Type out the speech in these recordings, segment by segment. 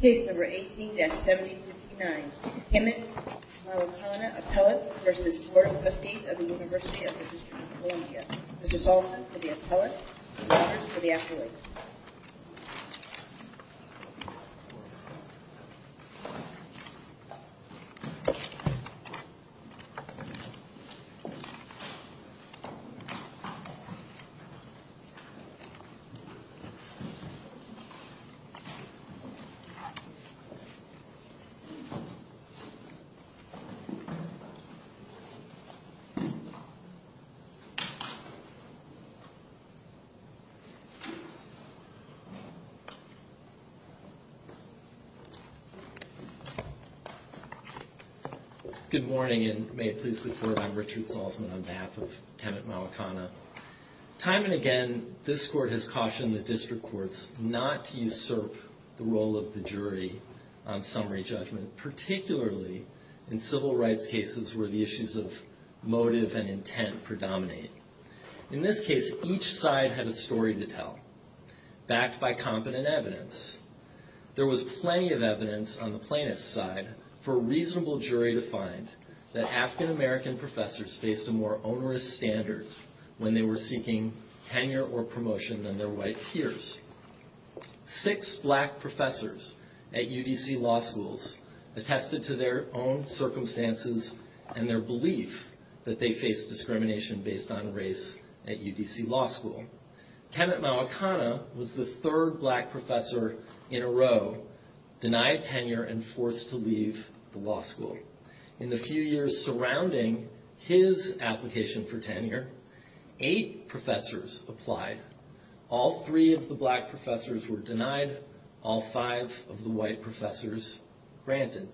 Case No. 18-7059. Himit Mawakana, Appellate v. Board of Trustees of the University of the District of Columbia. Mr. Saltzman for the Appellate, Mr. Rogers for the Appellate. Good morning and may it please the Court, I'm Richard Saltzman on behalf of Himit Mawakana. Time and again, this Court has cautioned the District Courts not to usurp the role of the jury on summary judgment, particularly in civil rights cases where the issues of motive and intent predominate. In this case, each side had a story to tell, backed by competent evidence. There was plenty of evidence on the plaintiff's side for a reasonable jury to find that African American professors faced a more onerous standard when they were seeking tenure or promotion than their white peers. Six black professors at UDC law schools attested to their own circumstances and their belief that they faced discrimination based on race at UDC law school. Himit Mawakana was the third black professor in a row denied tenure and forced to leave the law school. In the few years surrounding his application for tenure, eight professors applied. All three of the black professors were denied, all five of the white professors granted.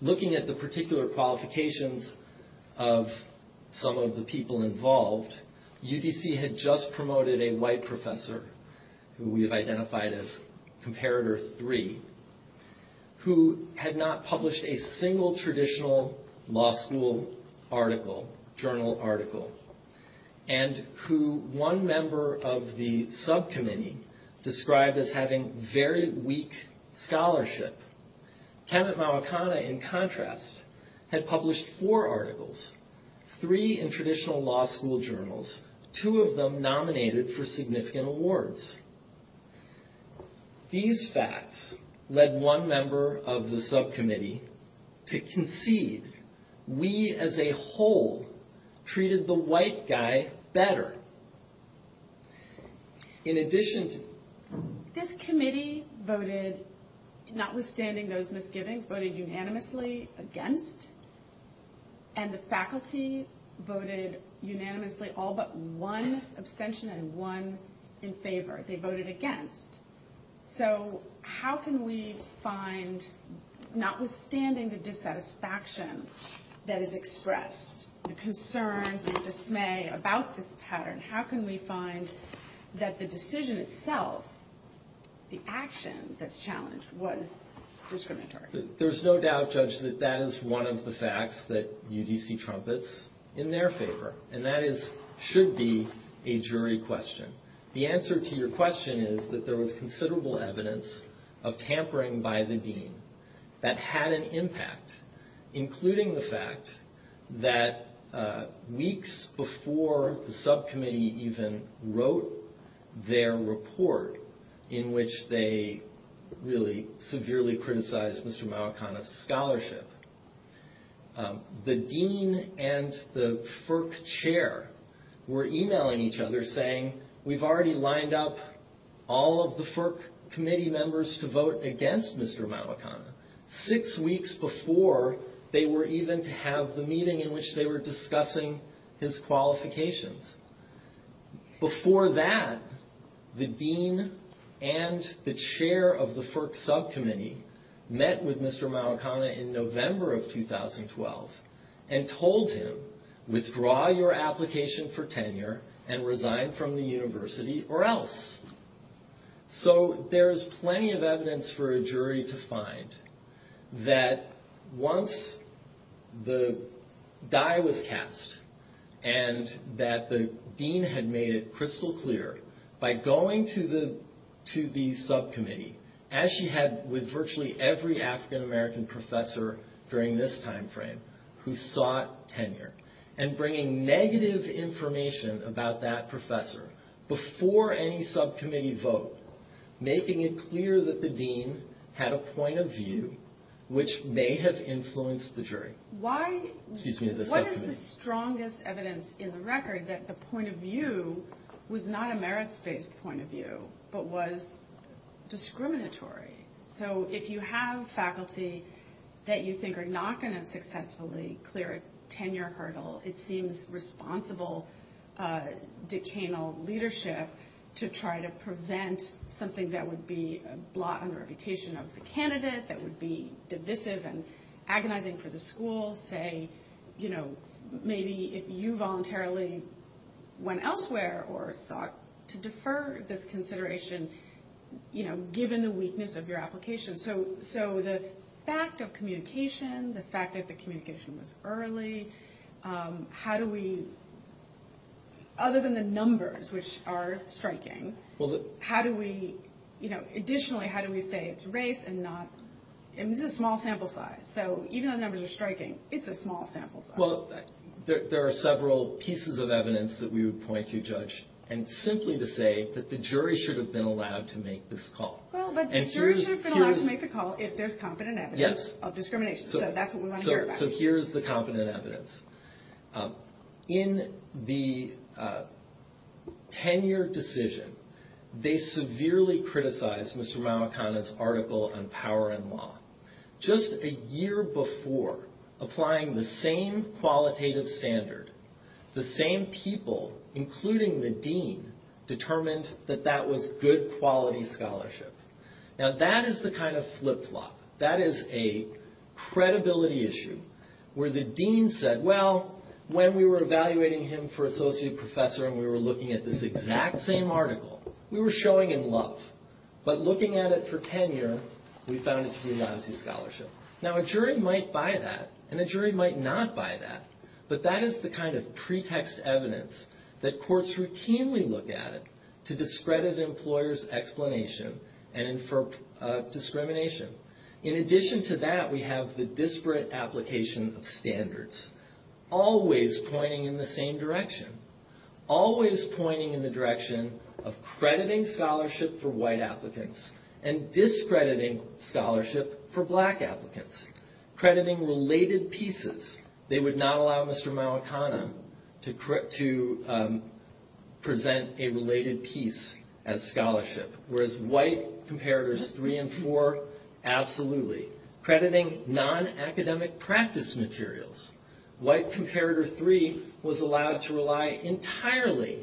Looking at the particular qualifications of some of the people involved, UDC had just promoted a white professor, who we have identified as Comparator 3, who had not published a single traditional law school article, journal article, and who one member of the subcommittee described as having very weak scholarship. Himit Mawakana, in contrast, had published four articles, three in traditional law school journals, two of them nominated for significant awards. These facts led one member of the subcommittee to concede we as a whole treated the white guy better. This committee voted, notwithstanding those misgivings, voted unanimously against, and the faculty voted unanimously all but one abstention and one in favor. They voted against. So how can we find, notwithstanding the dissatisfaction that is expressed, the concerns and dismay about this pattern, how can we find that the decision itself, the action that's challenged, was discriminatory? There's no doubt, Judge, that that is one of the facts that UDC trumpets in their favor, and that should be a jury question. The answer to your question is that there was considerable evidence of tampering by the dean that had an impact, including the fact that weeks before the subcommittee even wrote their report, in which they really severely criticized Mr. Mawakana's scholarship, the dean and the FERC chair were emailing each other saying, we've already lined up all of the FERC committee members to vote against Mr. Mawakana, six weeks before they were even to have the meeting in which they were discussing his qualifications. Before that, the dean and the chair of the FERC subcommittee met with Mr. Mawakana in November of 2012 and told him, withdraw your application for tenure and resign from the university or else. So there's plenty of evidence for a jury to find that once the die was cast, and that the dean had made it crystal clear by going to the subcommittee, as she had with virtually every African American professor during this time frame, who sought tenure, and bringing negative information about that professor before any subcommittee meeting, to the subcommittee vote, making it clear that the dean had a point of view which may have influenced the jury. What is the strongest evidence in the record that the point of view was not a merits-based point of view, but was discriminatory? So if you have faculty that you think are not going to successfully clear a tenure hurdle, it seems responsible decanal leadership to try to prevent something that would be a blot on the reputation of the candidate, that would be divisive and agonizing for the school. Say, you know, maybe if you voluntarily went elsewhere or sought to defer this consideration, you know, given the weakness of your application. So the fact of communication, the fact that the communication was early, how do we, other than the numbers, which are striking, how do we, you know, additionally, how do we say it's race and not, and this is a small sample size. So even though the numbers are striking, it's a small sample size. Well, there are several pieces of evidence that we would point to, Judge, and simply to say that the jury should have been allowed to make this call. Well, but the jury should have been allowed to make the call if there's competent evidence of discrimination. Yes. So that's what we want to hear about. So here's the competent evidence. In the tenure decision, they severely criticized Mr. Mawekana's article on power and law. Just a year before, applying the same qualitative standard, the same people, including the dean, determined that that was good quality scholarship. Now, that is the kind of flip-flop. That is a credibility issue where the dean said, well, when we were evaluating him for associate professor and we were looking at this exact same article, we were showing him love. But looking at it for tenure, we found it to be a lousy scholarship. Now, a jury might buy that, and a jury might not buy that. But that is the kind of pretext evidence that courts routinely look at to discredit employers' explanation and infer discrimination. In addition to that, we have the disparate application of standards, always pointing in the same direction. Always pointing in the direction of crediting scholarship for white applicants and discrediting scholarship for black applicants. Crediting related pieces. They would not allow Mr. Mawekana to present a related piece as scholarship, whereas white Comparators 3 and 4, absolutely. Crediting non-academic practice materials. White Comparator 3 was allowed to rely entirely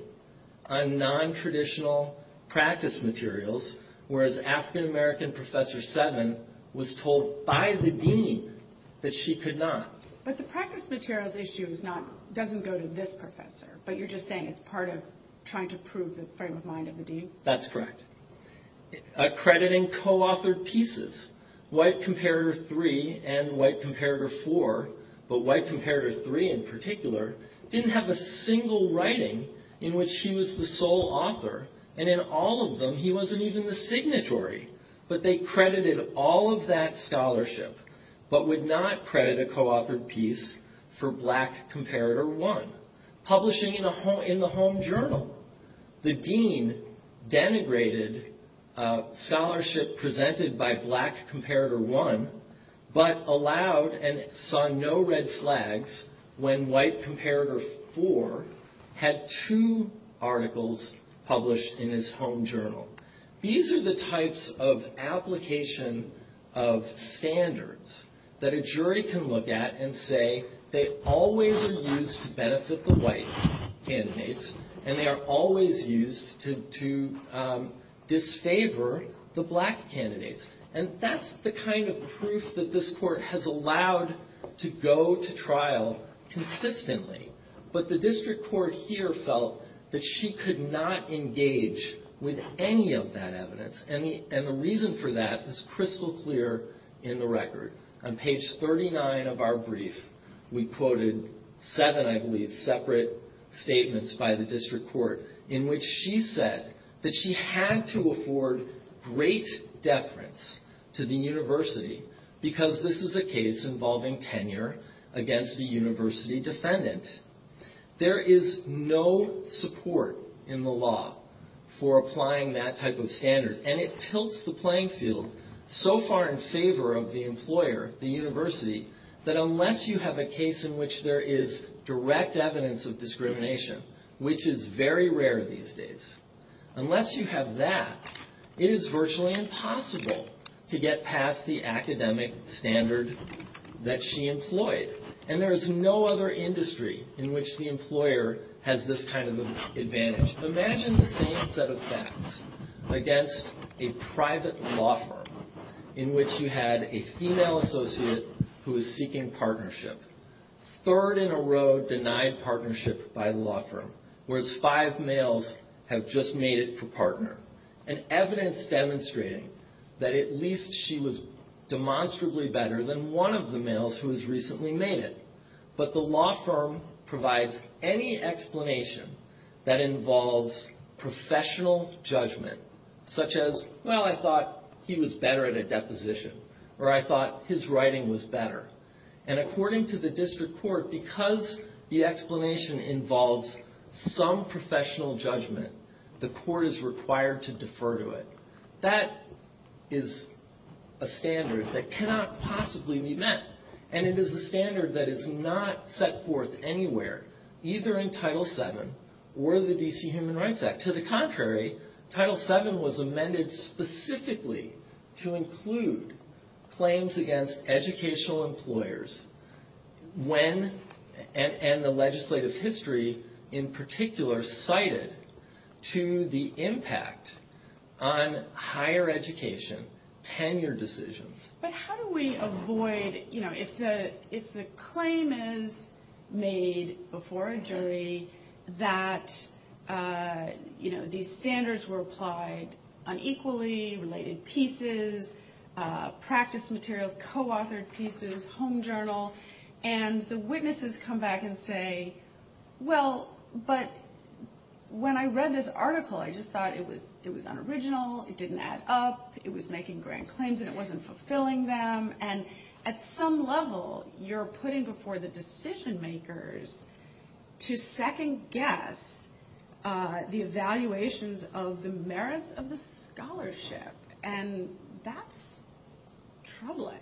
on non-traditional practice materials, whereas African American Professor 7 was told by the dean that she could not. But the practice materials issue doesn't go to this professor. But you're just saying it's part of trying to prove the frame of mind of the dean? That's correct. Crediting co-authored pieces. White Comparator 3 and White Comparator 4, but White Comparator 3 in particular, didn't have a single writing in which he was the sole author. And in all of them, he wasn't even the signatory. But they credited all of that scholarship, but would not credit a co-authored piece for Black Comparator 1. Publishing in the home journal. The dean denigrated scholarship presented by Black Comparator 1, but allowed and saw no red flags when White Comparator 4 had two articles published in his home journal. These are the types of application of standards that a jury can look at and say, they always are used to benefit the white candidates, and they are always used to disfavor the black candidates. And that's the kind of proof that this court has allowed to go to trial consistently. But the district court here felt that she could not engage with any of that evidence. And the reason for that is crystal clear in the record. On page 39 of our brief, we quoted seven, I believe, separate statements by the district court, in which she said that she had to afford great deference to the university, because this is a case involving tenure against a university defendant. There is no support in the law for applying that type of standard. And it tilts the playing field so far in favor of the employer, the university, that unless you have a case in which there is direct evidence of discrimination, which is very rare these days, unless you have that, it is virtually impossible to get past the academic standard that she employed. And there is no other industry in which the employer has this kind of advantage. Imagine the same set of facts against a private law firm in which you had a female associate who was seeking partnership, third in a row denied partnership by the law firm, whereas five males have just made it for partner, and evidence demonstrating that at least she was demonstrably better than one of the males who has recently made it. But the law firm provides any explanation that involves professional judgment, such as, well, I thought he was better at a deposition, or I thought his writing was better. And according to the district court, because the explanation involves some professional judgment, the court is required to defer to it. That is a standard that cannot possibly be met, and it is a standard that is not set forth anywhere, either in Title VII or the D.C. Human Rights Act. To the contrary, Title VII was amended specifically to include claims against educational employers when, and the legislative history in particular, cited to the impact on higher education tenure decisions. But how do we avoid, you know, if the claim is made before a jury that, you know, these standards were applied unequally, related pieces, practice materials, co-authored pieces, home journal, and the witnesses come back and say, well, but when I read this article, I just thought it was unoriginal, it didn't add up, it was making grand claims and it wasn't fulfilling them. And at some level, you're putting before the decision makers to second guess the evaluations of the merits of the scholarship. And that's troubling.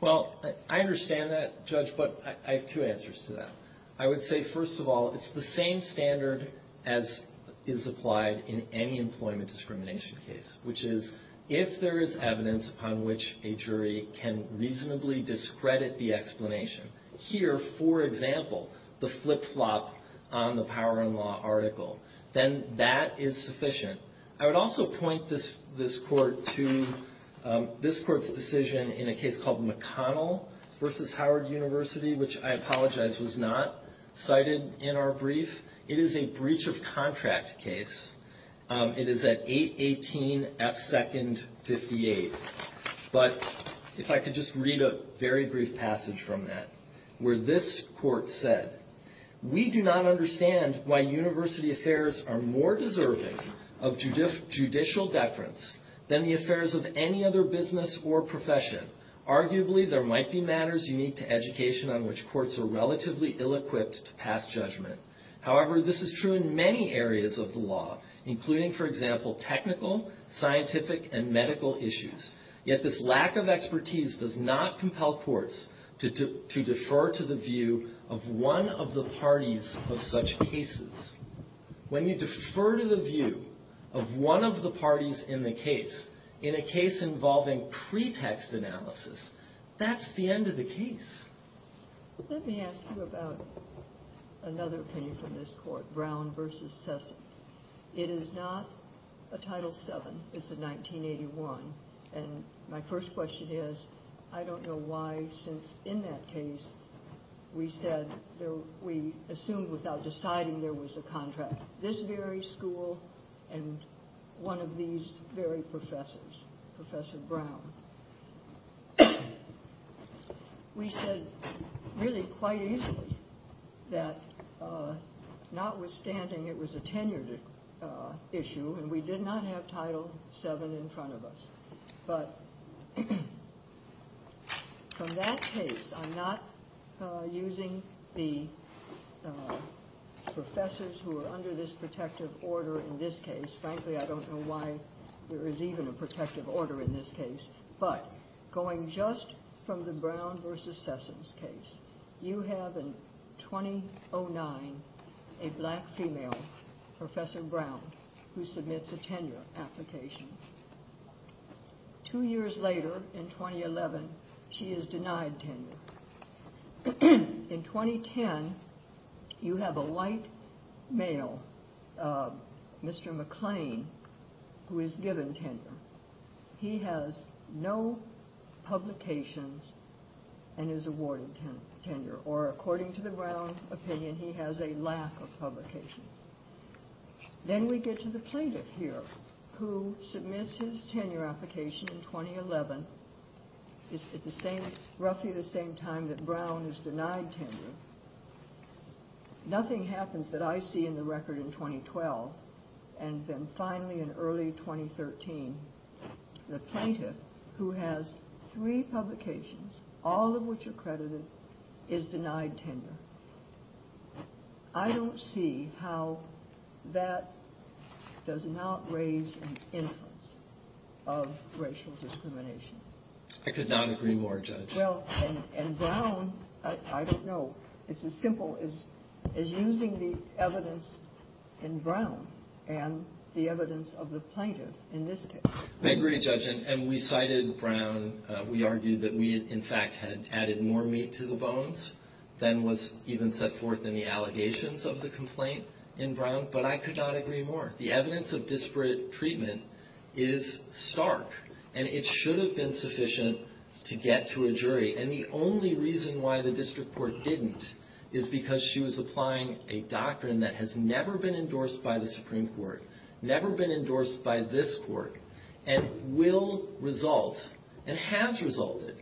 Well, I understand that, Judge, but I have two answers to that. I would say, first of all, it's the same standard as is applied in any employment discrimination case, which is if there is evidence upon which a jury can reasonably discredit the explanation. Here, for example, the flip-flop on the Power and Law article, then that is sufficient. I would also point this court to this court's decision in a case called McConnell v. Howard University, which I apologize was not cited in our brief. It is a breach of contract case. It is at 818 F. Second 58. But if I could just read a very brief passage from that, where this court said, we do not understand why university affairs are more deserving of judicial deference than the affairs of any other business or profession. Arguably, there might be matters unique to education on which courts are relatively ill-equipped to pass judgment. However, this is true in many areas of the law, including, for example, technical, scientific, and medical issues. Yet this lack of expertise does not compel courts to defer to the view of one of the parties of such cases. When you defer to the view of one of the parties in the case, in a case involving pretext analysis, that's the end of the case. Let me ask you about another opinion from this court, Brown v. Sessom. It is not a Title VII. It's a 1981. And my first question is, I don't know why, since in that case, we said, we assumed without deciding there was a contract. This very school and one of these very professors, Professor Brown. We said really quite easily that notwithstanding it was a tenured issue and we did not have Title VII in front of us. But from that case, I'm not using the professors who are under this protective order in this case. Frankly, I don't know why there is even a protective order in this case. But going just from the Brown v. Sessom case, you have in 2009 a black female, Professor Brown, who submits a tenure application. Two years later, in 2011, she is denied tenure. In 2010, you have a white male, Mr. McClain, who is given tenure. He has no publications and is awarded tenure. Or according to the Brown opinion, he has a lack of publications. Then we get to the plaintiff here, who submits his tenure application in 2011. It's at roughly the same time that Brown is denied tenure. Nothing happens that I see in the record in 2012. And then finally in early 2013, the plaintiff, who has three publications, all of which are credited, is denied tenure. I don't see how that does not raise an inference of racial discrimination. I could not agree more, Judge. Well, and Brown, I don't know. It's as simple as using the evidence in Brown and the evidence of the plaintiff in this case. I agree, Judge. And we cited Brown. We argued that we, in fact, had added more meat to the bones than was even set forth in the allegations of the complaint in Brown. But I could not agree more. The evidence of disparate treatment is stark, and it should have been sufficient to get to a jury. And the only reason why the district court didn't is because she was applying a doctrine that has never been endorsed by the Supreme Court, never been endorsed by this court, and will result and has resulted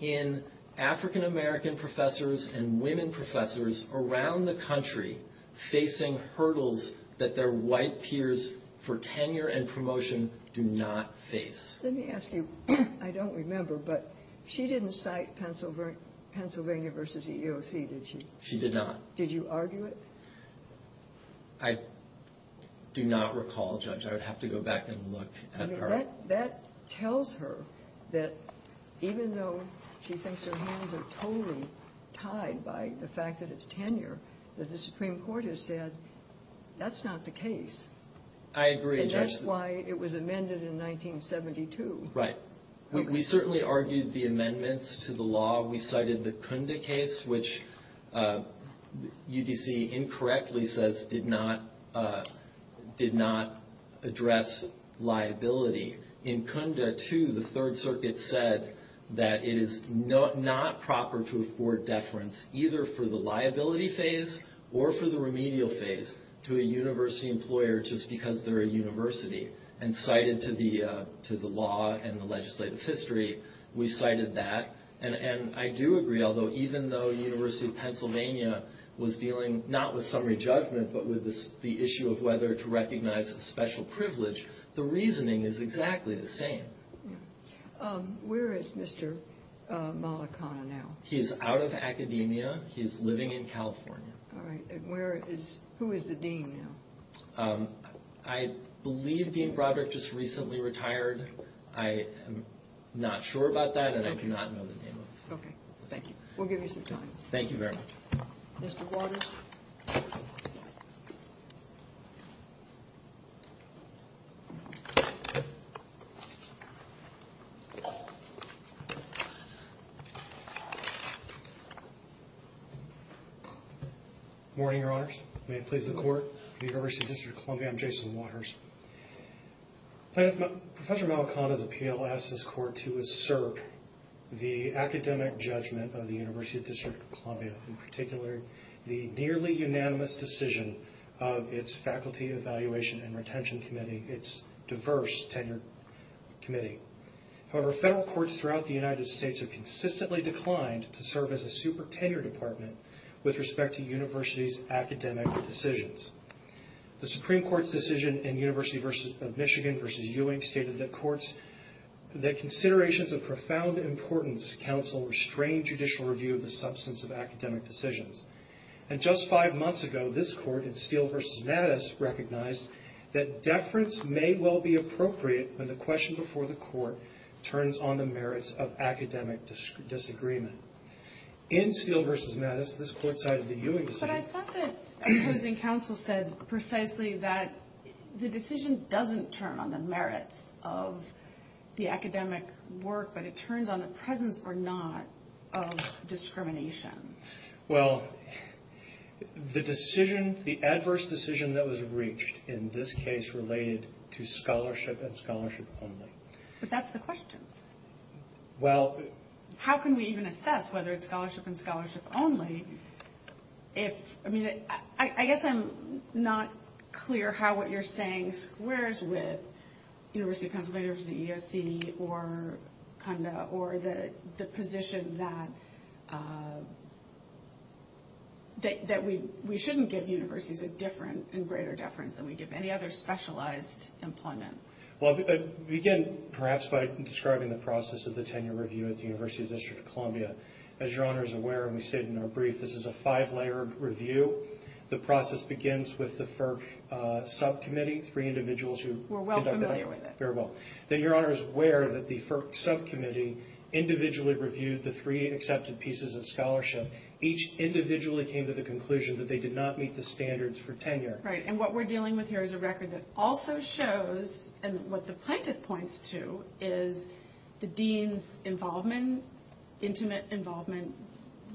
in African-American professors and women professors around the country facing hurdles that their white peers for tenure and promotion do not face. Let me ask you. I don't remember, but she didn't cite Pennsylvania v. EEOC, did she? She did not. Did you argue it? I do not recall, Judge. I would have to go back and look at her. I mean, that tells her that even though she thinks her hands are totally tied by the fact that it's tenure, that the Supreme Court has said that's not the case. I agree, Judge. And that's why it was amended in 1972. Right. We certainly argued the amendments to the law. We cited the Cunda case, which UDC incorrectly says did not address liability. In Cunda, too, the Third Circuit said that it is not proper to afford deference either for the liability phase or for the remedial phase to a university employer just because they're a university, and cited to the law and the legislative history, we cited that. And I do agree, although even though the University of Pennsylvania was dealing not with summary judgment but with the issue of whether to recognize a special privilege, the reasoning is exactly the same. Where is Mr. Malakana now? He is out of academia. He is living in California. All right. And where is – who is the dean now? I believe Dean Broderick just recently retired. I am not sure about that, and I do not know the name of him. Okay. Thank you. We'll give you some time. Thank you very much. Mr. Waters. Good morning, Your Honors. May it please the Court. For the University District of Columbia, I'm Jason Waters. Professor Malakana's appeal asks this Court to assert the academic judgment of the University District of Columbia, in particular the nearly unanimous decision of its Faculty Evaluation and Retention Committee, its diverse tenure committee. However, federal courts throughout the United States have consistently declined to serve as a supertenure department with respect to universities' academic decisions. The Supreme Court's decision in University of Michigan v. Ewing stated that considerations of profound importance to counsel restrain judicial review of the substance of academic decisions. And just five months ago, this Court in Steele v. Mattis recognized that deference may well be appropriate when the question before the court turns on the merits of academic disagreement. In Steele v. Mattis, this Court cited the Ewing decision. But I thought that opposing counsel said precisely that the decision doesn't turn on the merits of the academic work, but it turns on the presence or not of discrimination. Well, the decision, the adverse decision that was reached in this case related to scholarship and scholarship only. But that's the question. Well... How can we even assess whether it's scholarship and scholarship only if... I mean, I guess I'm not clear how what you're saying squares with University of Pennsylvania v. USC or CUNDA or the position that we shouldn't give universities a different and greater deference than we give any other specialized employment. Well, I'll begin perhaps by describing the process of the tenure review at the University of District of Columbia. As Your Honor is aware, and we stated in our brief, this is a five-layer review. The process begins with the FERC subcommittee, three individuals who... Were well familiar with it. Very well. Then Your Honor is aware that the FERC subcommittee individually reviewed the three accepted pieces of scholarship. Each individually came to the conclusion that they did not meet the standards for tenure. Right, and what we're dealing with here is a record that also shows, and what the plaintiff points to, is the dean's involvement, intimate involvement,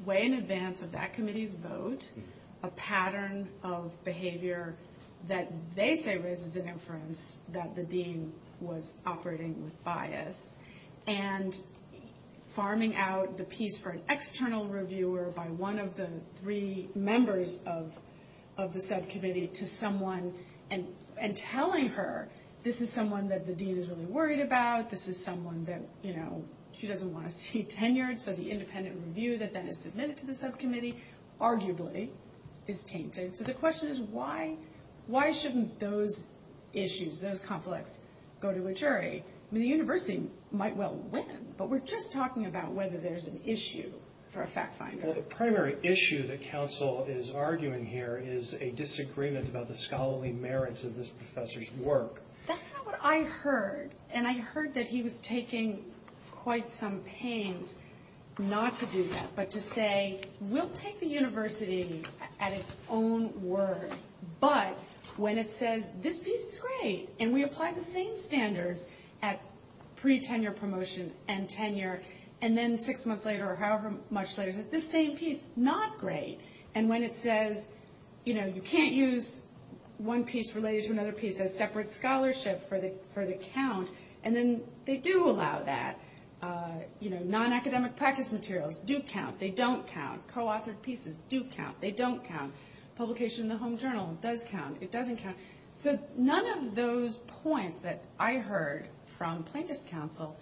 way in advance of that committee's vote, a pattern of behavior that they say raises an inference that the dean was operating with bias. And farming out the piece for an external reviewer by one of the three members of the subcommittee to someone and telling her this is someone that the dean is really worried about, this is someone that she doesn't want to see tenured. So the independent review that then is submitted to the subcommittee arguably is tainted. So the question is why shouldn't those issues, those conflicts, go to a jury? I mean, the university might well win, but we're just talking about whether there's an issue for a fact finder. Well, the primary issue that counsel is arguing here is a disagreement about the scholarly merits of this professor's work. That's not what I heard, and I heard that he was taking quite some pains not to do that, but to say we'll take the university at its own word. But when it says this piece is great, and we apply the same standards at pre-tenure promotion and tenure, and then six months later or however much later, this same piece, not great. And when it says, you know, you can't use one piece related to another piece as separate scholarship for the count, and then they do allow that. You know, non-academic practice materials do count. They don't count. Co-authored pieces do count. They don't count. Publication in the home journal does count. It doesn't count. So none of those points that I heard from plaintiff's counsel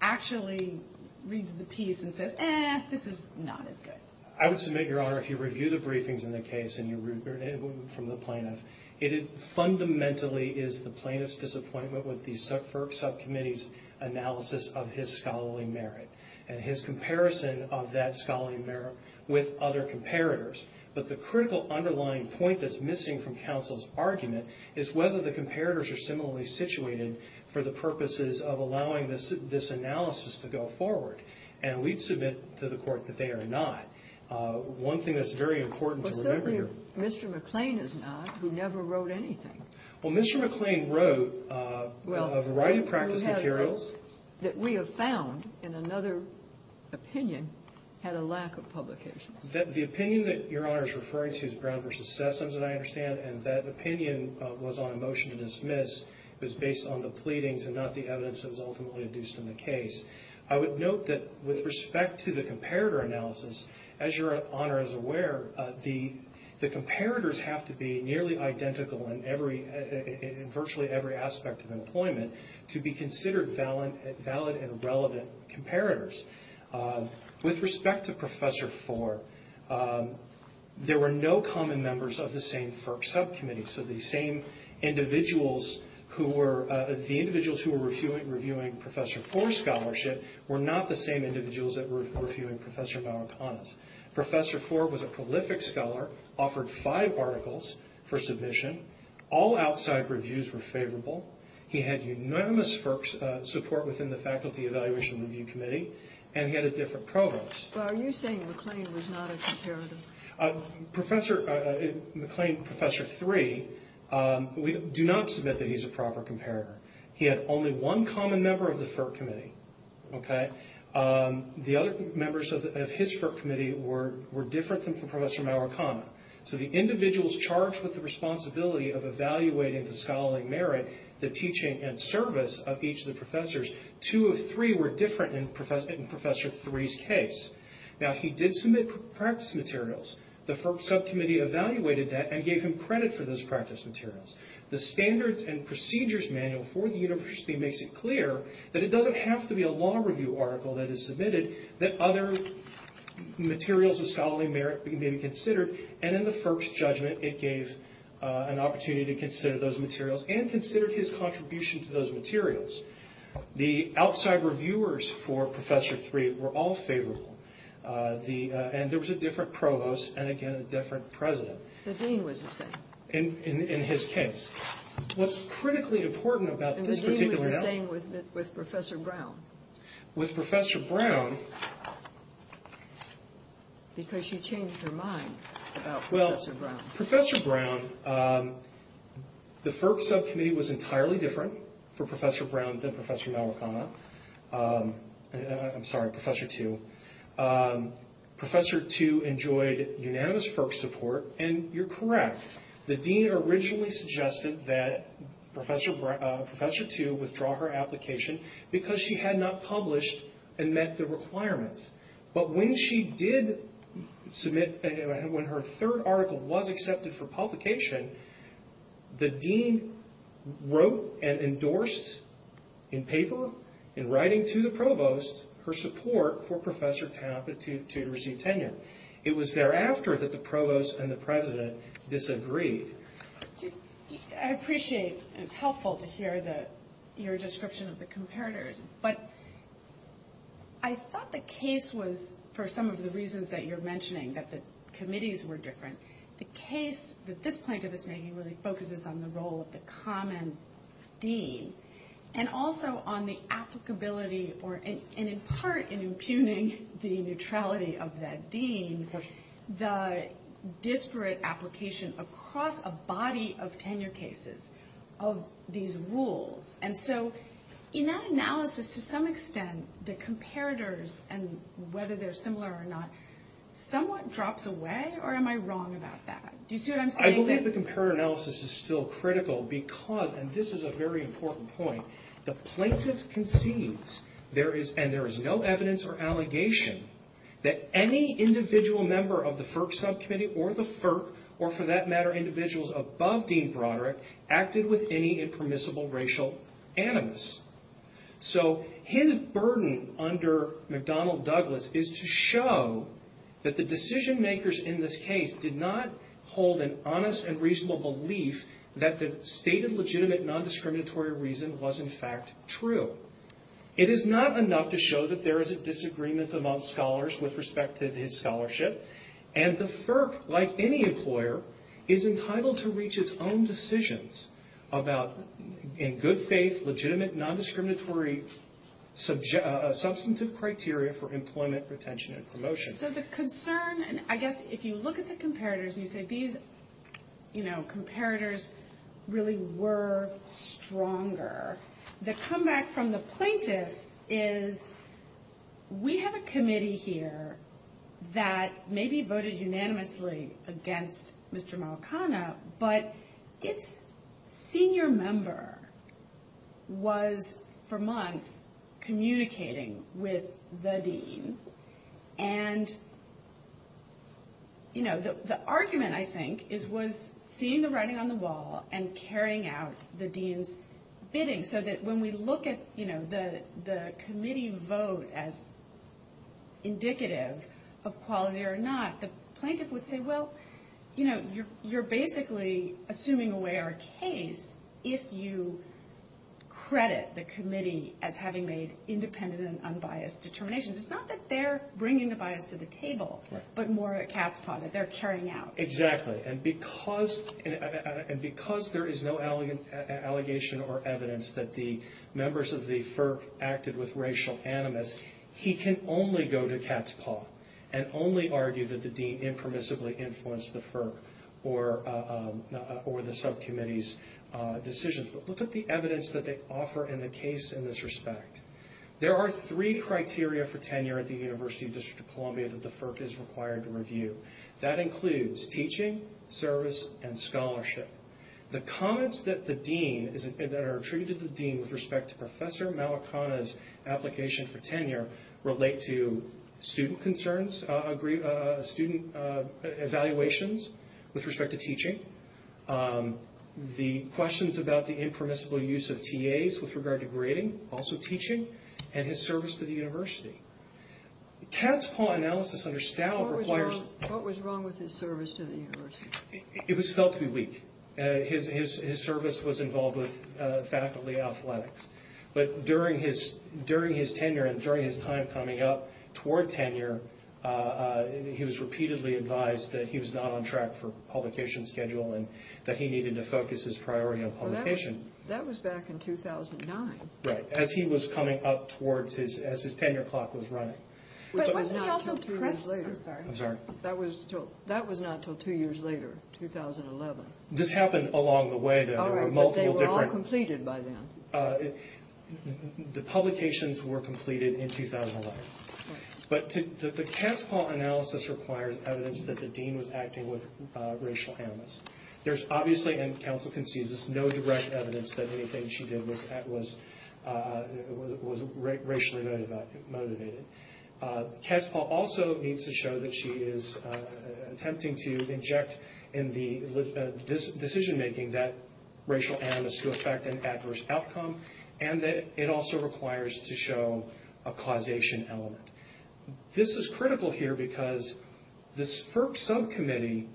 actually reads the piece and says, eh, this is not as good. I would submit, Your Honor, if you review the briefings in the case and you read from the plaintiff, it fundamentally is the plaintiff's disappointment with the FERC subcommittee's analysis of his scholarly merit and his comparison of that scholarly merit with other comparators. But the critical underlying point that's missing from counsel's argument is whether the comparators are similarly situated for the purposes of allowing this analysis to go forward. And we'd submit to the Court that they are not. One thing that's very important to remember here. Well, certainly Mr. McClain is not, who never wrote anything. Well, Mr. McClain wrote a variety of practice materials. Well, he wrote that we have found in another opinion had a lack of publication. The opinion that Your Honor is referring to is Brown v. Sessoms that I understand, and that opinion was on a motion to dismiss. It was based on the pleadings and not the evidence that was ultimately induced in the case. I would note that with respect to the comparator analysis, as Your Honor is aware, the comparators have to be nearly identical in virtually every aspect of employment to be considered valid and relevant comparators. With respect to Professor Ford, there were no common members of the same FERC subcommittee. So the same individuals who were reviewing Professor Ford's scholarship were not the same individuals that were reviewing Professor Maurekana's. Professor Ford was a prolific scholar, offered five articles for submission. All outside reviews were favorable. He had unanimous FERC support within the Faculty Evaluation and Review Committee, and he had a different provost. Well, are you saying McClain was not a comparator? Professor McClain, Professor Three, we do not submit that he's a proper comparator. He had only one common member of the FERC committee. The other members of his FERC committee were different than Professor Maurekana. So the individuals charged with the responsibility of evaluating the scholarly merit, the teaching, and service of each of the professors, two of three were different in Professor Three's case. Now, he did submit practice materials. The FERC subcommittee evaluated that and gave him credit for those practice materials. The Standards and Procedures Manual for the university makes it clear that it doesn't have to be a law review article that is submitted, that other materials of scholarly merit may be considered. And in the FERC's judgment, it gave an opportunity to consider those materials and considered his contribution to those materials. The outside reviewers for Professor Three were all favorable. And there was a different provost and, again, a different president. The dean was the same. In his case. What's critically important about this particular... And the dean was the same with Professor Brown. With Professor Brown... Because she changed her mind about Professor Brown. Well, Professor Brown... The FERC subcommittee was entirely different for Professor Brown than Professor Maurekana. I'm sorry, Professor Two. Professor Two enjoyed unanimous FERC support, and you're correct. The dean originally suggested that Professor Two withdraw her application because she had not published and met the requirements. But when she did submit... When her third article was accepted for publication, the dean wrote and endorsed in paper, in writing to the provost, her support for Professor Two to receive tenure. It was thereafter that the provost and the president disagreed. I appreciate, and it's helpful to hear your description of the comparators, but I thought the case was, for some of the reasons that you're mentioning, that the committees were different. The case that this plaintiff is making really focuses on the role of the common dean and also on the applicability and, in part, in impugning the neutrality of that dean, the disparate application across a body of tenure cases of these rules. And so in that analysis, to some extent, the comparators, and whether they're similar or not, somewhat drops away, or am I wrong about that? Do you see what I'm saying? I believe the comparator analysis is still critical because, and this is a very important point, the plaintiff concedes, and there is no evidence or allegation, that any individual member of the FERC subcommittee, or the FERC, or, for that matter, individuals above Dean Broderick, acted with any impermissible racial animus. So his burden under McDonnell Douglas is to show that the decision makers in this case did not hold an honest and reasonable belief that the stated legitimate nondiscriminatory reason was, in fact, true. It is not enough to show that there is a disagreement among scholars with respect to his scholarship, and the FERC, like any employer, is entitled to reach its own decisions about, in good faith, legitimate nondiscriminatory substantive criteria for employment, retention, and promotion. So the concern, and I guess if you look at the comparators, and you say these comparators really were stronger, the comeback from the plaintiff is, we have a committee here that maybe voted unanimously against Mr. Malkana, but its senior member was, for months, communicating with the dean, and, you know, the argument, I think, was seeing the writing on the wall and carrying out the dean's bidding, so that when we look at the committee vote as indicative of quality or not, the plaintiff would say, well, you know, you're basically assuming away our case if you credit the committee as having made independent and unbiased determinations. It's not that they're bringing the bias to the table, but more a cat's paw, that they're carrying out. Exactly, and because there is no allegation or evidence that the members of the FERC acted with racial animus, he can only go to cat's paw and only argue that the dean impermissibly influenced the FERC or the subcommittee's decisions. But look at the evidence that they offer in the case in this respect. There are three criteria for tenure at the University District of Columbia that the FERC is required to review. That includes teaching, service, and scholarship. The comments that the dean, that are attributed to the dean with respect to Professor Malakana's application for tenure relate to student concerns, student evaluations with respect to teaching, the questions about the impermissible use of TAs with regard to grading, also teaching, and his service to the university. Cat's paw analysis under Stout requires... What was wrong with his service to the university? It was felt to be weak. His service was involved with faculty athletics. But during his tenure and during his time coming up toward tenure, he was repeatedly advised that he was not on track for publication schedule and that he needed to focus his priority on publication. That was back in 2009. Right, as he was coming up towards his tenure clock was running. But wasn't he also depressed? I'm sorry. That was not until two years later, 2011. This happened along the way. All right, but they were all completed by then. The publications were completed in 2011. But the Cat's paw analysis requires evidence that the dean was acting with racial animus. There's obviously, and counsel concedes this, no direct evidence that anything she did was racially motivated. Cat's paw also needs to show that she is attempting to inject in the decision making that racial animus to affect an adverse outcome, and that it also requires to show a causation element. This is critical here because this FERC subcommittee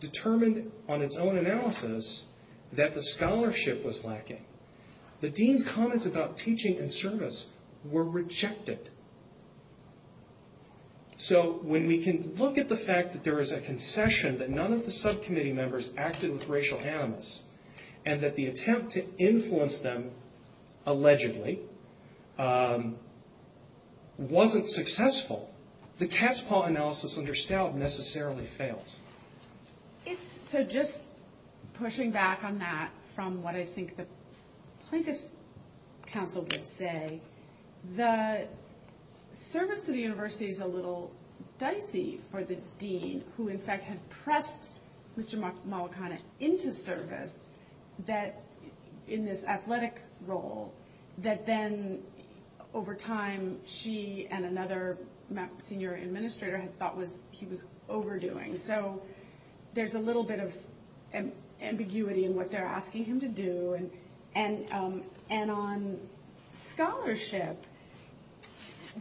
determined on its own analysis that the scholarship was lacking. The dean's comments about teaching and service were rejected. So when we can look at the fact that there is a concession that none of the subcommittee members acted with racial animus, and that the attempt to influence them, allegedly, wasn't successful, the Cat's paw analysis under Stoud necessarily fails. So just pushing back on that from what I think the plaintiff's counsel would say, the service to the university is a little dicey for the dean, who in fact had pressed Mr. Malakana into service in this athletic role, that then over time she and another senior administrator thought he was overdoing. So there's a little bit of ambiguity in what they're asking him to do. And on scholarship,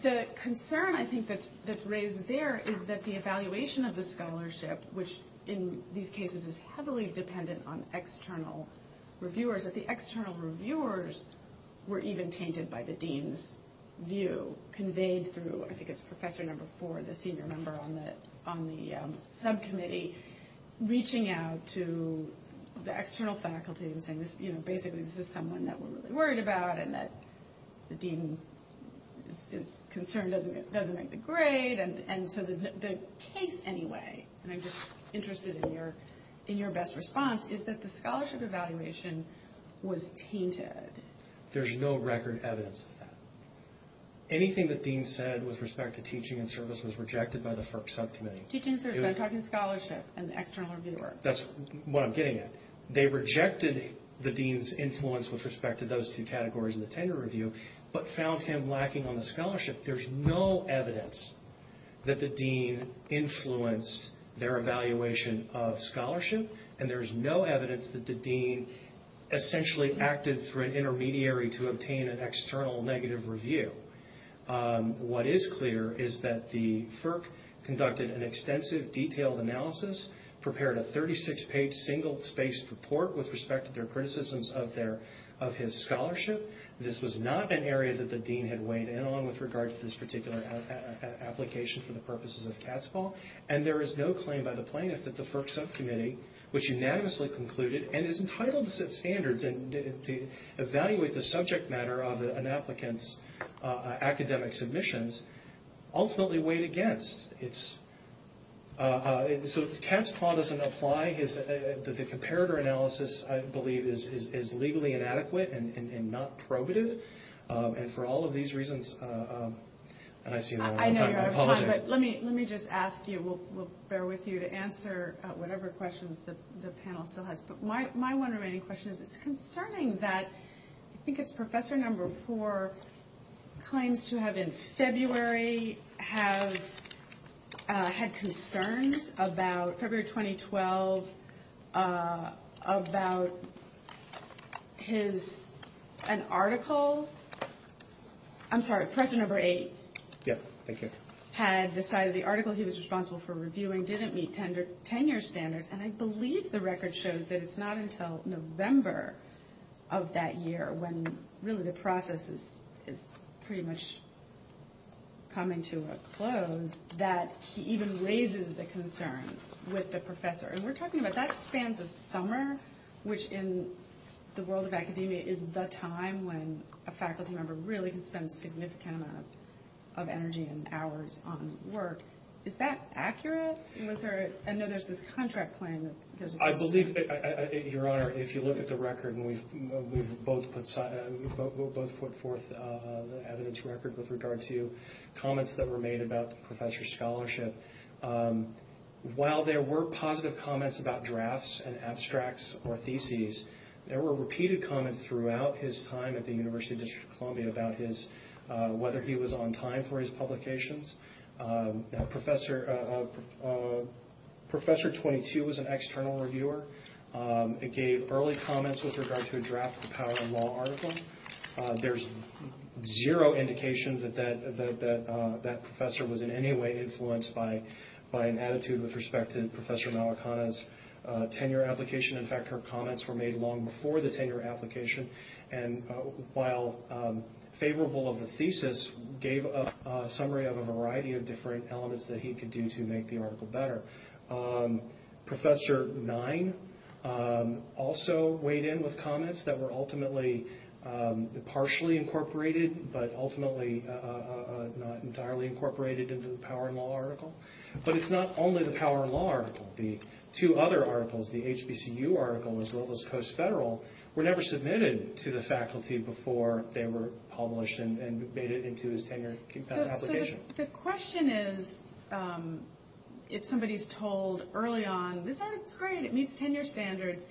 the concern I think that's raised there is that the evaluation of the scholarship, which in these cases is heavily dependent on external reviewers, that the external reviewers were even tainted by the dean's view, I think it's Professor No. 4, the senior member on the subcommittee, reaching out to the external faculty and saying, basically this is someone that we're really worried about, and that the dean's concern doesn't make the grade. And so the case anyway, and I'm just interested in your best response, is that the scholarship evaluation was tainted. There's no record evidence of that. Anything the dean said with respect to teaching and service was rejected by the FERC subcommittee. Teaching and service, but I'm talking scholarship and the external reviewer. That's what I'm getting at. They rejected the dean's influence with respect to those two categories in the tenure review, but found him lacking on the scholarship. There's no evidence that the dean influenced their evaluation of scholarship, and there's no evidence that the dean essentially acted through an intermediary to obtain an external negative review. What is clear is that the FERC conducted an extensive, detailed analysis, prepared a 36-page, single-spaced report with respect to their criticisms of his scholarship. This was not an area that the dean had weighed in on with regard to this particular application for the purposes of Catsball, and there is no claim by the plaintiff that the FERC subcommittee, which unanimously concluded and is entitled to set standards and to evaluate the subject matter of an applicant's academic submissions, ultimately weighed against. So Catsball doesn't apply. The comparator analysis, I believe, is legally inadequate and not probative, and for all of these reasons, and I've seen that all the time. Let me just ask you, we'll bear with you, to answer whatever questions the panel still has. But my one remaining question is it's concerning that I think it's Professor No. 4 claims to have in February had concerns about February 2012 about his article. I'm sorry, Professor No. 8. Yeah, thank you. Had decided the article he was responsible for reviewing didn't meet tenure standards, and I believe the record shows that it's not until November of that year, when really the process is pretty much coming to a close, that he even raises the concerns with the professor. And we're talking about that spans a summer, which in the world of academia is the time when a faculty member really can spend a significant amount of energy and hours on work. Is that accurate? I know there's this contract playing. I believe, Your Honor, if you look at the record, we've both put forth the evidence record with regard to comments that were made about the professor's scholarship. While there were positive comments about drafts and abstracts or theses, there were repeated comments throughout his time at the University District of whether he was on time for his publications. Professor No. 22 was an external reviewer. It gave early comments with regard to a draft of the Power and Law article. There's zero indication that that professor was in any way influenced by an attitude with respect to Professor Malakana's tenure application. In fact, her comments were made long before the tenure application. And while favorable of the thesis, gave a summary of a variety of different elements that he could do to make the article better. Professor Nein also weighed in with comments that were ultimately partially incorporated, but ultimately not entirely incorporated into the Power and Law article. But it's not only the Power and Law article. The two other articles, the HBCU article as well as Coast Federal, were never submitted to the faculty before they were published and made it into his tenure application. So the question is, if somebody's told early on, this article's great, it meets tenure standards,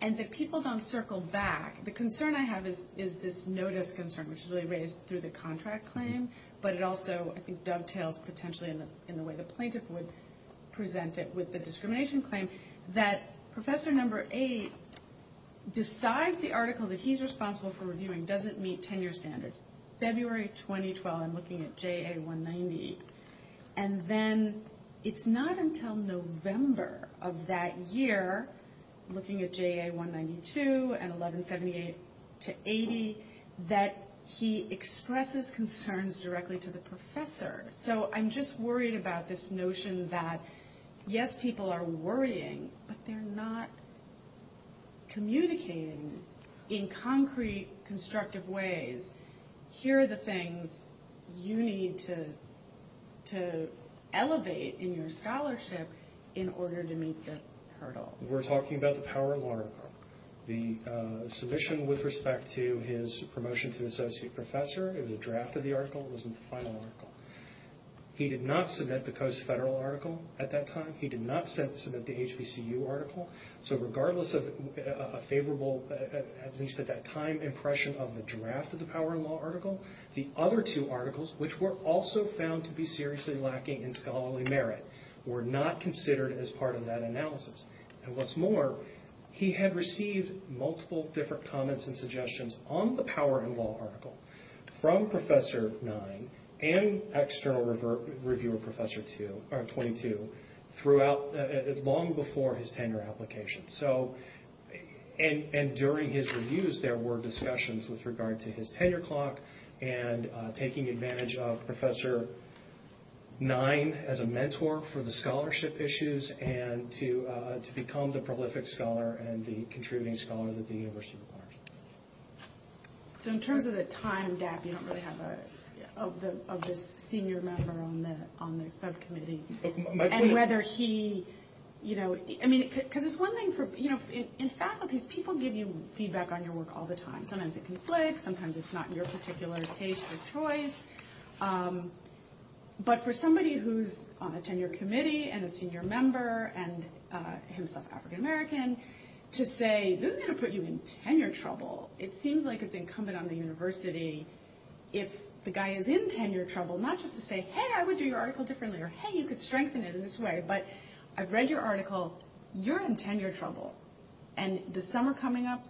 and that people don't circle back, the concern I have is this notice concern, which is really raised through the contract claim, but it also, I think, dovetails potentially in the way the plaintiff would present it with the discrimination claim, that Professor No. 8 decides the article that he's responsible for reviewing doesn't meet tenure standards. February 2012, I'm looking at JA 190. And then it's not until November of that year, looking at JA 192 and 1178-80, that he expresses concerns directly to the professor. So I'm just worried about this notion that, yes, people are worrying, but they're not communicating in concrete, constructive ways. Here are the things you need to elevate in your scholarship in order to meet the hurdle. We're talking about the Power and Law article. The submission with respect to his promotion to associate professor, it was a draft of the article, it wasn't the final article. He did not submit the Coase Federal article at that time. He did not submit the HBCU article. So regardless of a favorable, at least at that time, impression of the draft of the Power and Law article, the other two articles, which were also found to be seriously lacking in scholarly merit, were not considered as part of that analysis. on the Power and Law article from Professor Nye and external reviewer Professor 22, long before his tenure application. And during his reviews, there were discussions with regard to his tenure clock and taking advantage of Professor Nye as a mentor for the scholarship issues and to become the prolific scholar and the contributing scholar that the university requires. So in terms of the time gap, you don't really have a senior member on the subcommittee. And whether he, you know, I mean, because it's one thing for, you know, in faculties, people give you feedback on your work all the time. Sometimes it conflicts, sometimes it's not your particular taste or choice. But for somebody who's on a tenure committee and a senior member and himself African-American, to say, this is going to put you in tenure trouble. It seems like it's incumbent on the university, if the guy is in tenure trouble, not just to say, hey, I would do your article differently, or hey, you could strengthen it in this way, but I've read your article, you're in tenure trouble. And the summer coming up,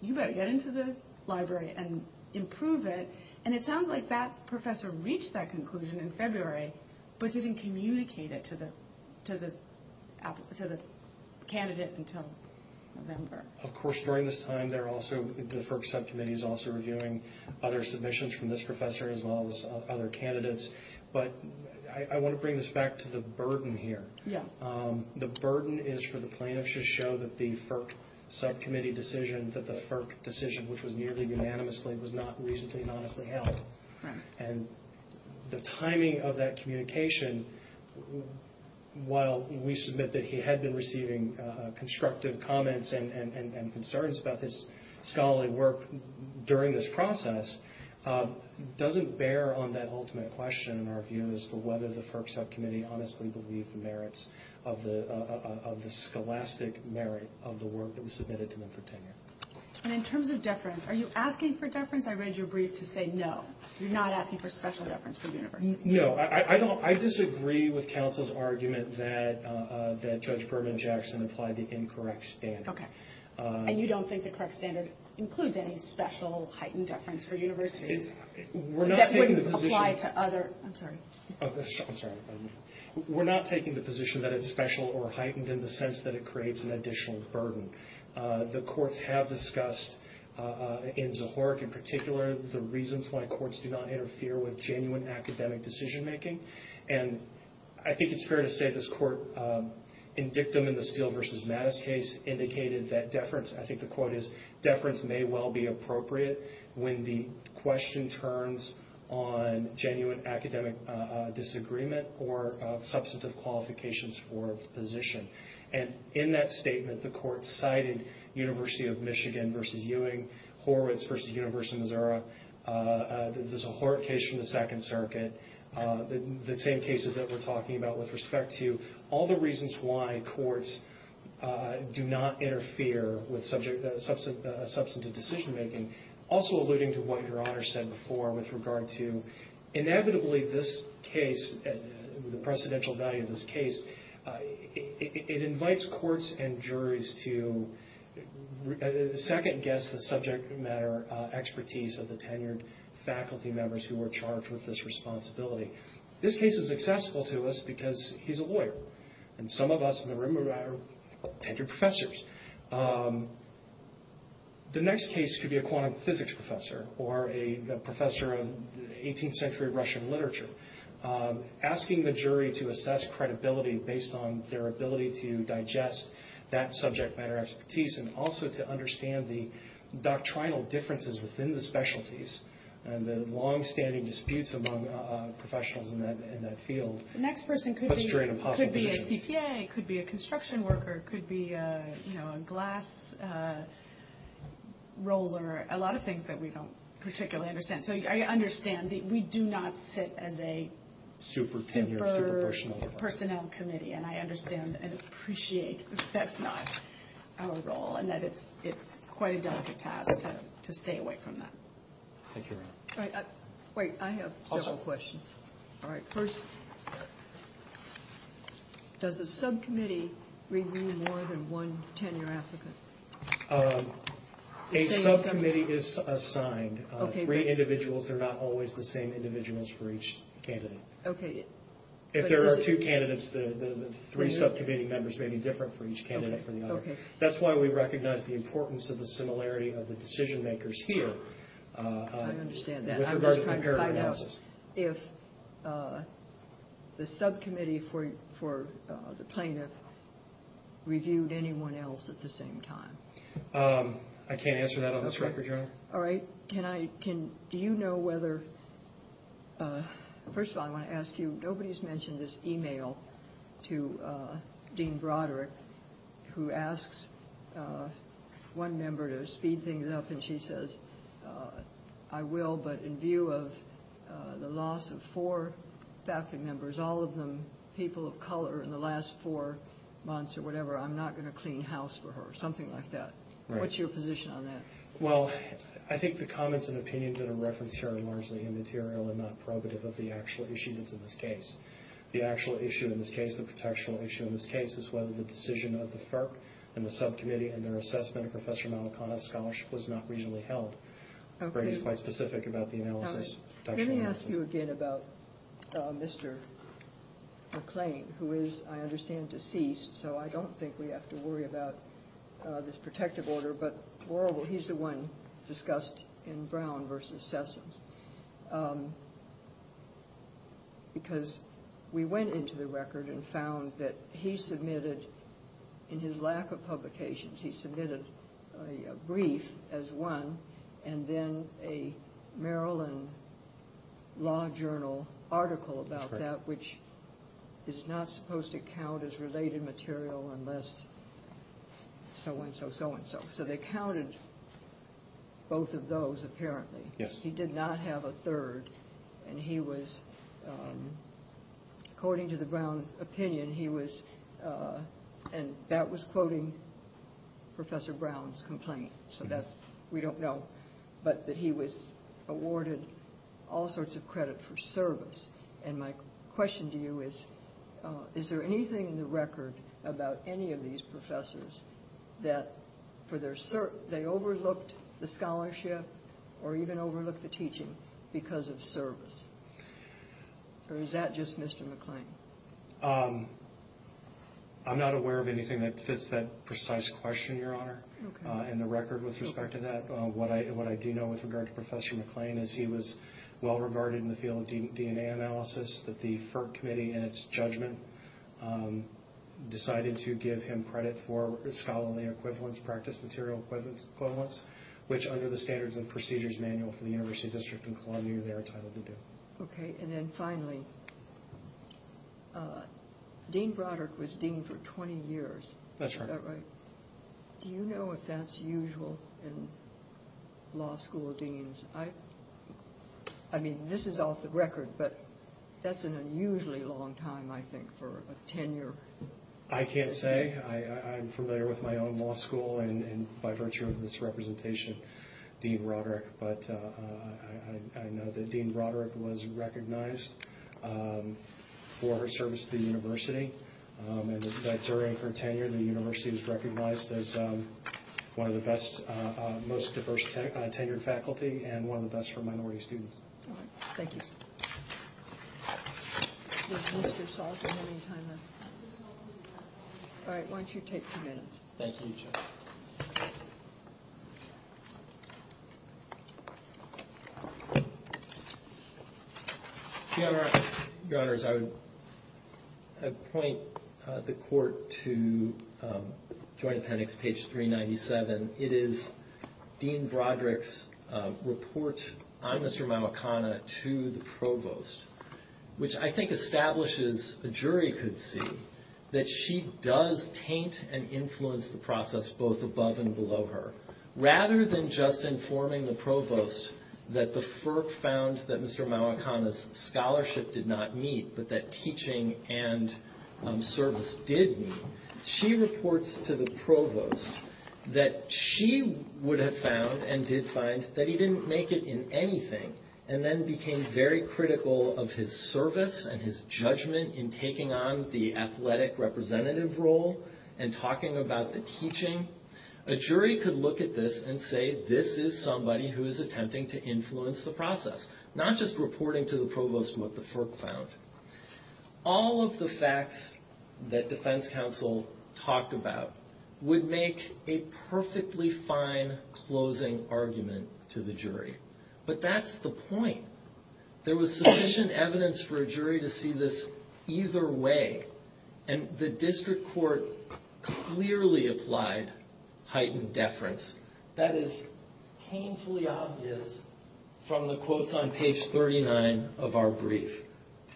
you better get into the library and improve it. And it sounds like that professor reached that conclusion in February, but didn't communicate it to the candidate until November. Of course, during this time, the FERC subcommittee is also reviewing other submissions from this professor as well as other candidates. But I want to bring this back to the burden here. The burden is for the plaintiffs to show that the FERC subcommittee decision, which was nearly unanimously, was not reasonably and honestly held. And the timing of that communication, while we submit that he had been receiving constructive comments and concerns about his scholarly work during this process, doesn't bear on that ultimate question in our view as to whether the FERC subcommittee honestly believed the merits of the scholastic merit of the work that was submitted to them for tenure. And in terms of deference, are you asking for deference? I read your brief to say no. You're not asking for special deference for universities. No. I disagree with counsel's argument that Judge Berman Jackson applied the incorrect standard. Okay. And you don't think the correct standard includes any special heightened deference for universities? That wouldn't apply to other – I'm sorry. I'm sorry. We're not taking the position that it's special or heightened in the sense that it creates an additional burden. The courts have discussed in Zahork, in particular, the reasons why courts do not interfere with genuine academic decision-making. And I think it's fair to say this court, in Dictum in the Steele v. Mattis case, indicated that deference – I think the quote is, deference may well be appropriate when the question turns on genuine academic disagreement or substantive qualifications for a position. And in that statement, the court cited University of Michigan v. Ewing, Horowitz v. University of Missouri, the Zahork case from the Second Circuit, the same cases that we're talking about with respect to all the reasons why courts do not interfere with substantive decision-making, also alluding to what Your Honor said before with regard to, inevitably, this case, the precedential value of this case, it invites courts and juries to second-guess the subject matter expertise of the tenured faculty members who are charged with this responsibility. This case is accessible to us because he's a lawyer, and some of us in the room are tenured professors. The next case could be a quantum physics professor or a professor of 18th century Russian literature, asking the jury to assess credibility based on their ability to digest that subject matter expertise and also to understand the doctrinal differences within the specialties and the longstanding disputes among professionals in that field. The next person could be a CPA, could be a construction worker, could be a glass roller, a lot of things that we don't particularly understand. So I understand that we do not sit as a super-personnel committee, and I understand and appreciate that's not our role and that it's quite a delicate task to stay away from that. Thank you, Your Honor. Wait, I have several questions. All right, first, does a subcommittee renew more than one tenure applicant? A subcommittee is assigned. Three individuals, they're not always the same individuals for each candidate. If there are two candidates, the three subcommittee members may be different for each candidate from the other. That's why we recognize the importance of the similarity of the decision-makers here. I understand that. I was trying to find out if the subcommittee for the plaintiff reviewed anyone else at the same time. I can't answer that on this record, Your Honor. All right. Do you know whether – first of all, I want to ask you, nobody's mentioned this e-mail to Dean Broderick, who asks one member to speed things up, and she says, I will, but in view of the loss of four faculty members, all of them people of color, in the last four months or whatever, I'm not going to clean house for her, something like that. What's your position on that? Well, I think the comments and opinions that are referenced here are largely immaterial and not probative of the actual issue that's in this case. The actual issue in this case, the protection issue in this case, is whether the decision of the FERC and the subcommittee and their assessment of Professor Malacana's scholarship was not reasonably held. He's quite specific about the analysis. Let me ask you again about Mr. McClain, who is, I understand, deceased, so I don't think we have to worry about this protective order. But he's the one discussed in Brown versus Sessoms, because we went into the record and found that he submitted, in his lack of publications, he submitted a brief as one, and then a Maryland Law Journal article about that, which is not supposed to count as related material unless so-and-so, so-and-so. So they counted both of those, apparently. Yes. He did not have a third, and he was, according to the Brown opinion, he was, and that was quoting Professor Brown's complaint, so that's, we don't know, but that he was awarded all sorts of credit for service. And my question to you is, is there anything in the record about any of these professors that they overlooked the scholarship or even overlooked the teaching because of service? Or is that just Mr. McClain? I'm not aware of anything that fits that precise question, Your Honor, in the record with respect to that. What I do know with regard to Professor McClain is he was well regarded in the field of DNA analysis, that the FERC Committee, in its judgment, decided to give him credit for scholarly equivalence, practice material equivalence, which under the Standards and Procedures Manual for the University District of Columbia, they are entitled to do. Okay, and then finally, Dean Broderick was dean for 20 years. That's right. Do you know if that's usual in law school deans? I mean, this is off the record, but that's an unusually long time, I think, for a tenure. I can't say. I'm familiar with my own law school and by virtue of this representation, Dean Broderick, but I know that Dean Broderick was recognized for her service to the university, and that during her tenure, the university was recognized as one of the best, most diverse tenured faculty and one of the best for minority students. All right. Thank you. All right. Thank you, Judge. Thank you. Your Honors, I would point the Court to Joint Appendix, page 397. It is Dean Broderick's report on Mr. Mamakana to the Provost, which I think establishes, a jury could see, that she does taint and influence the process both above and below her. Rather than just informing the Provost that the FERC found that Mr. Mamakana's scholarship did not meet, but that teaching and service did meet, she reports to the Provost that she would have found and did find that he didn't make it in anything and then became very critical of his service and his judgment in taking on the athletic representative role and talking about the teaching. A jury could look at this and say, this is somebody who is attempting to influence the process, not just reporting to the Provost what the FERC found. All of the facts that defense counsel talked about would make a perfectly fine closing argument to the jury. But that's the point. There was sufficient evidence for a jury to see this either way. And the District Court clearly applied heightened deference. That is painfully obvious from the quotes on page 39 of our brief.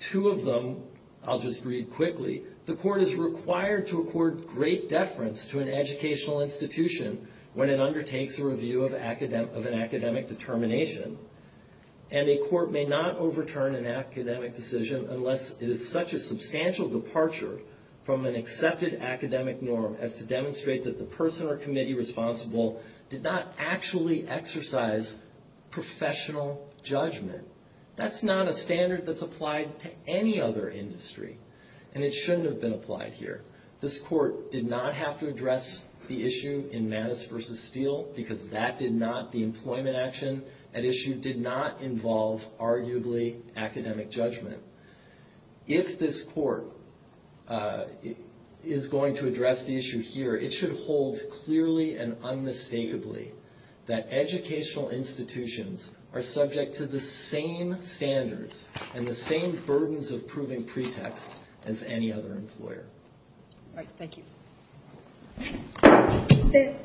Two of them, I'll just read quickly. The Court is required to accord great deference to an educational institution when it undertakes a review of an academic determination. And a court may not overturn an academic decision unless it is such a substantial departure from an accepted academic norm as to demonstrate that the person or committee responsible did not actually exercise professional judgment. That's not a standard that's applied to any other industry. And it shouldn't have been applied here. This Court did not have to address the issue in Mattis v. Steele because that did not, the employment action at issue did not involve arguably academic judgment. If this Court is going to address the issue here, it should hold clearly and unmistakably that educational institutions are subject to the same standards and the same burdens of proving pretext as any other employer. All right, thank you.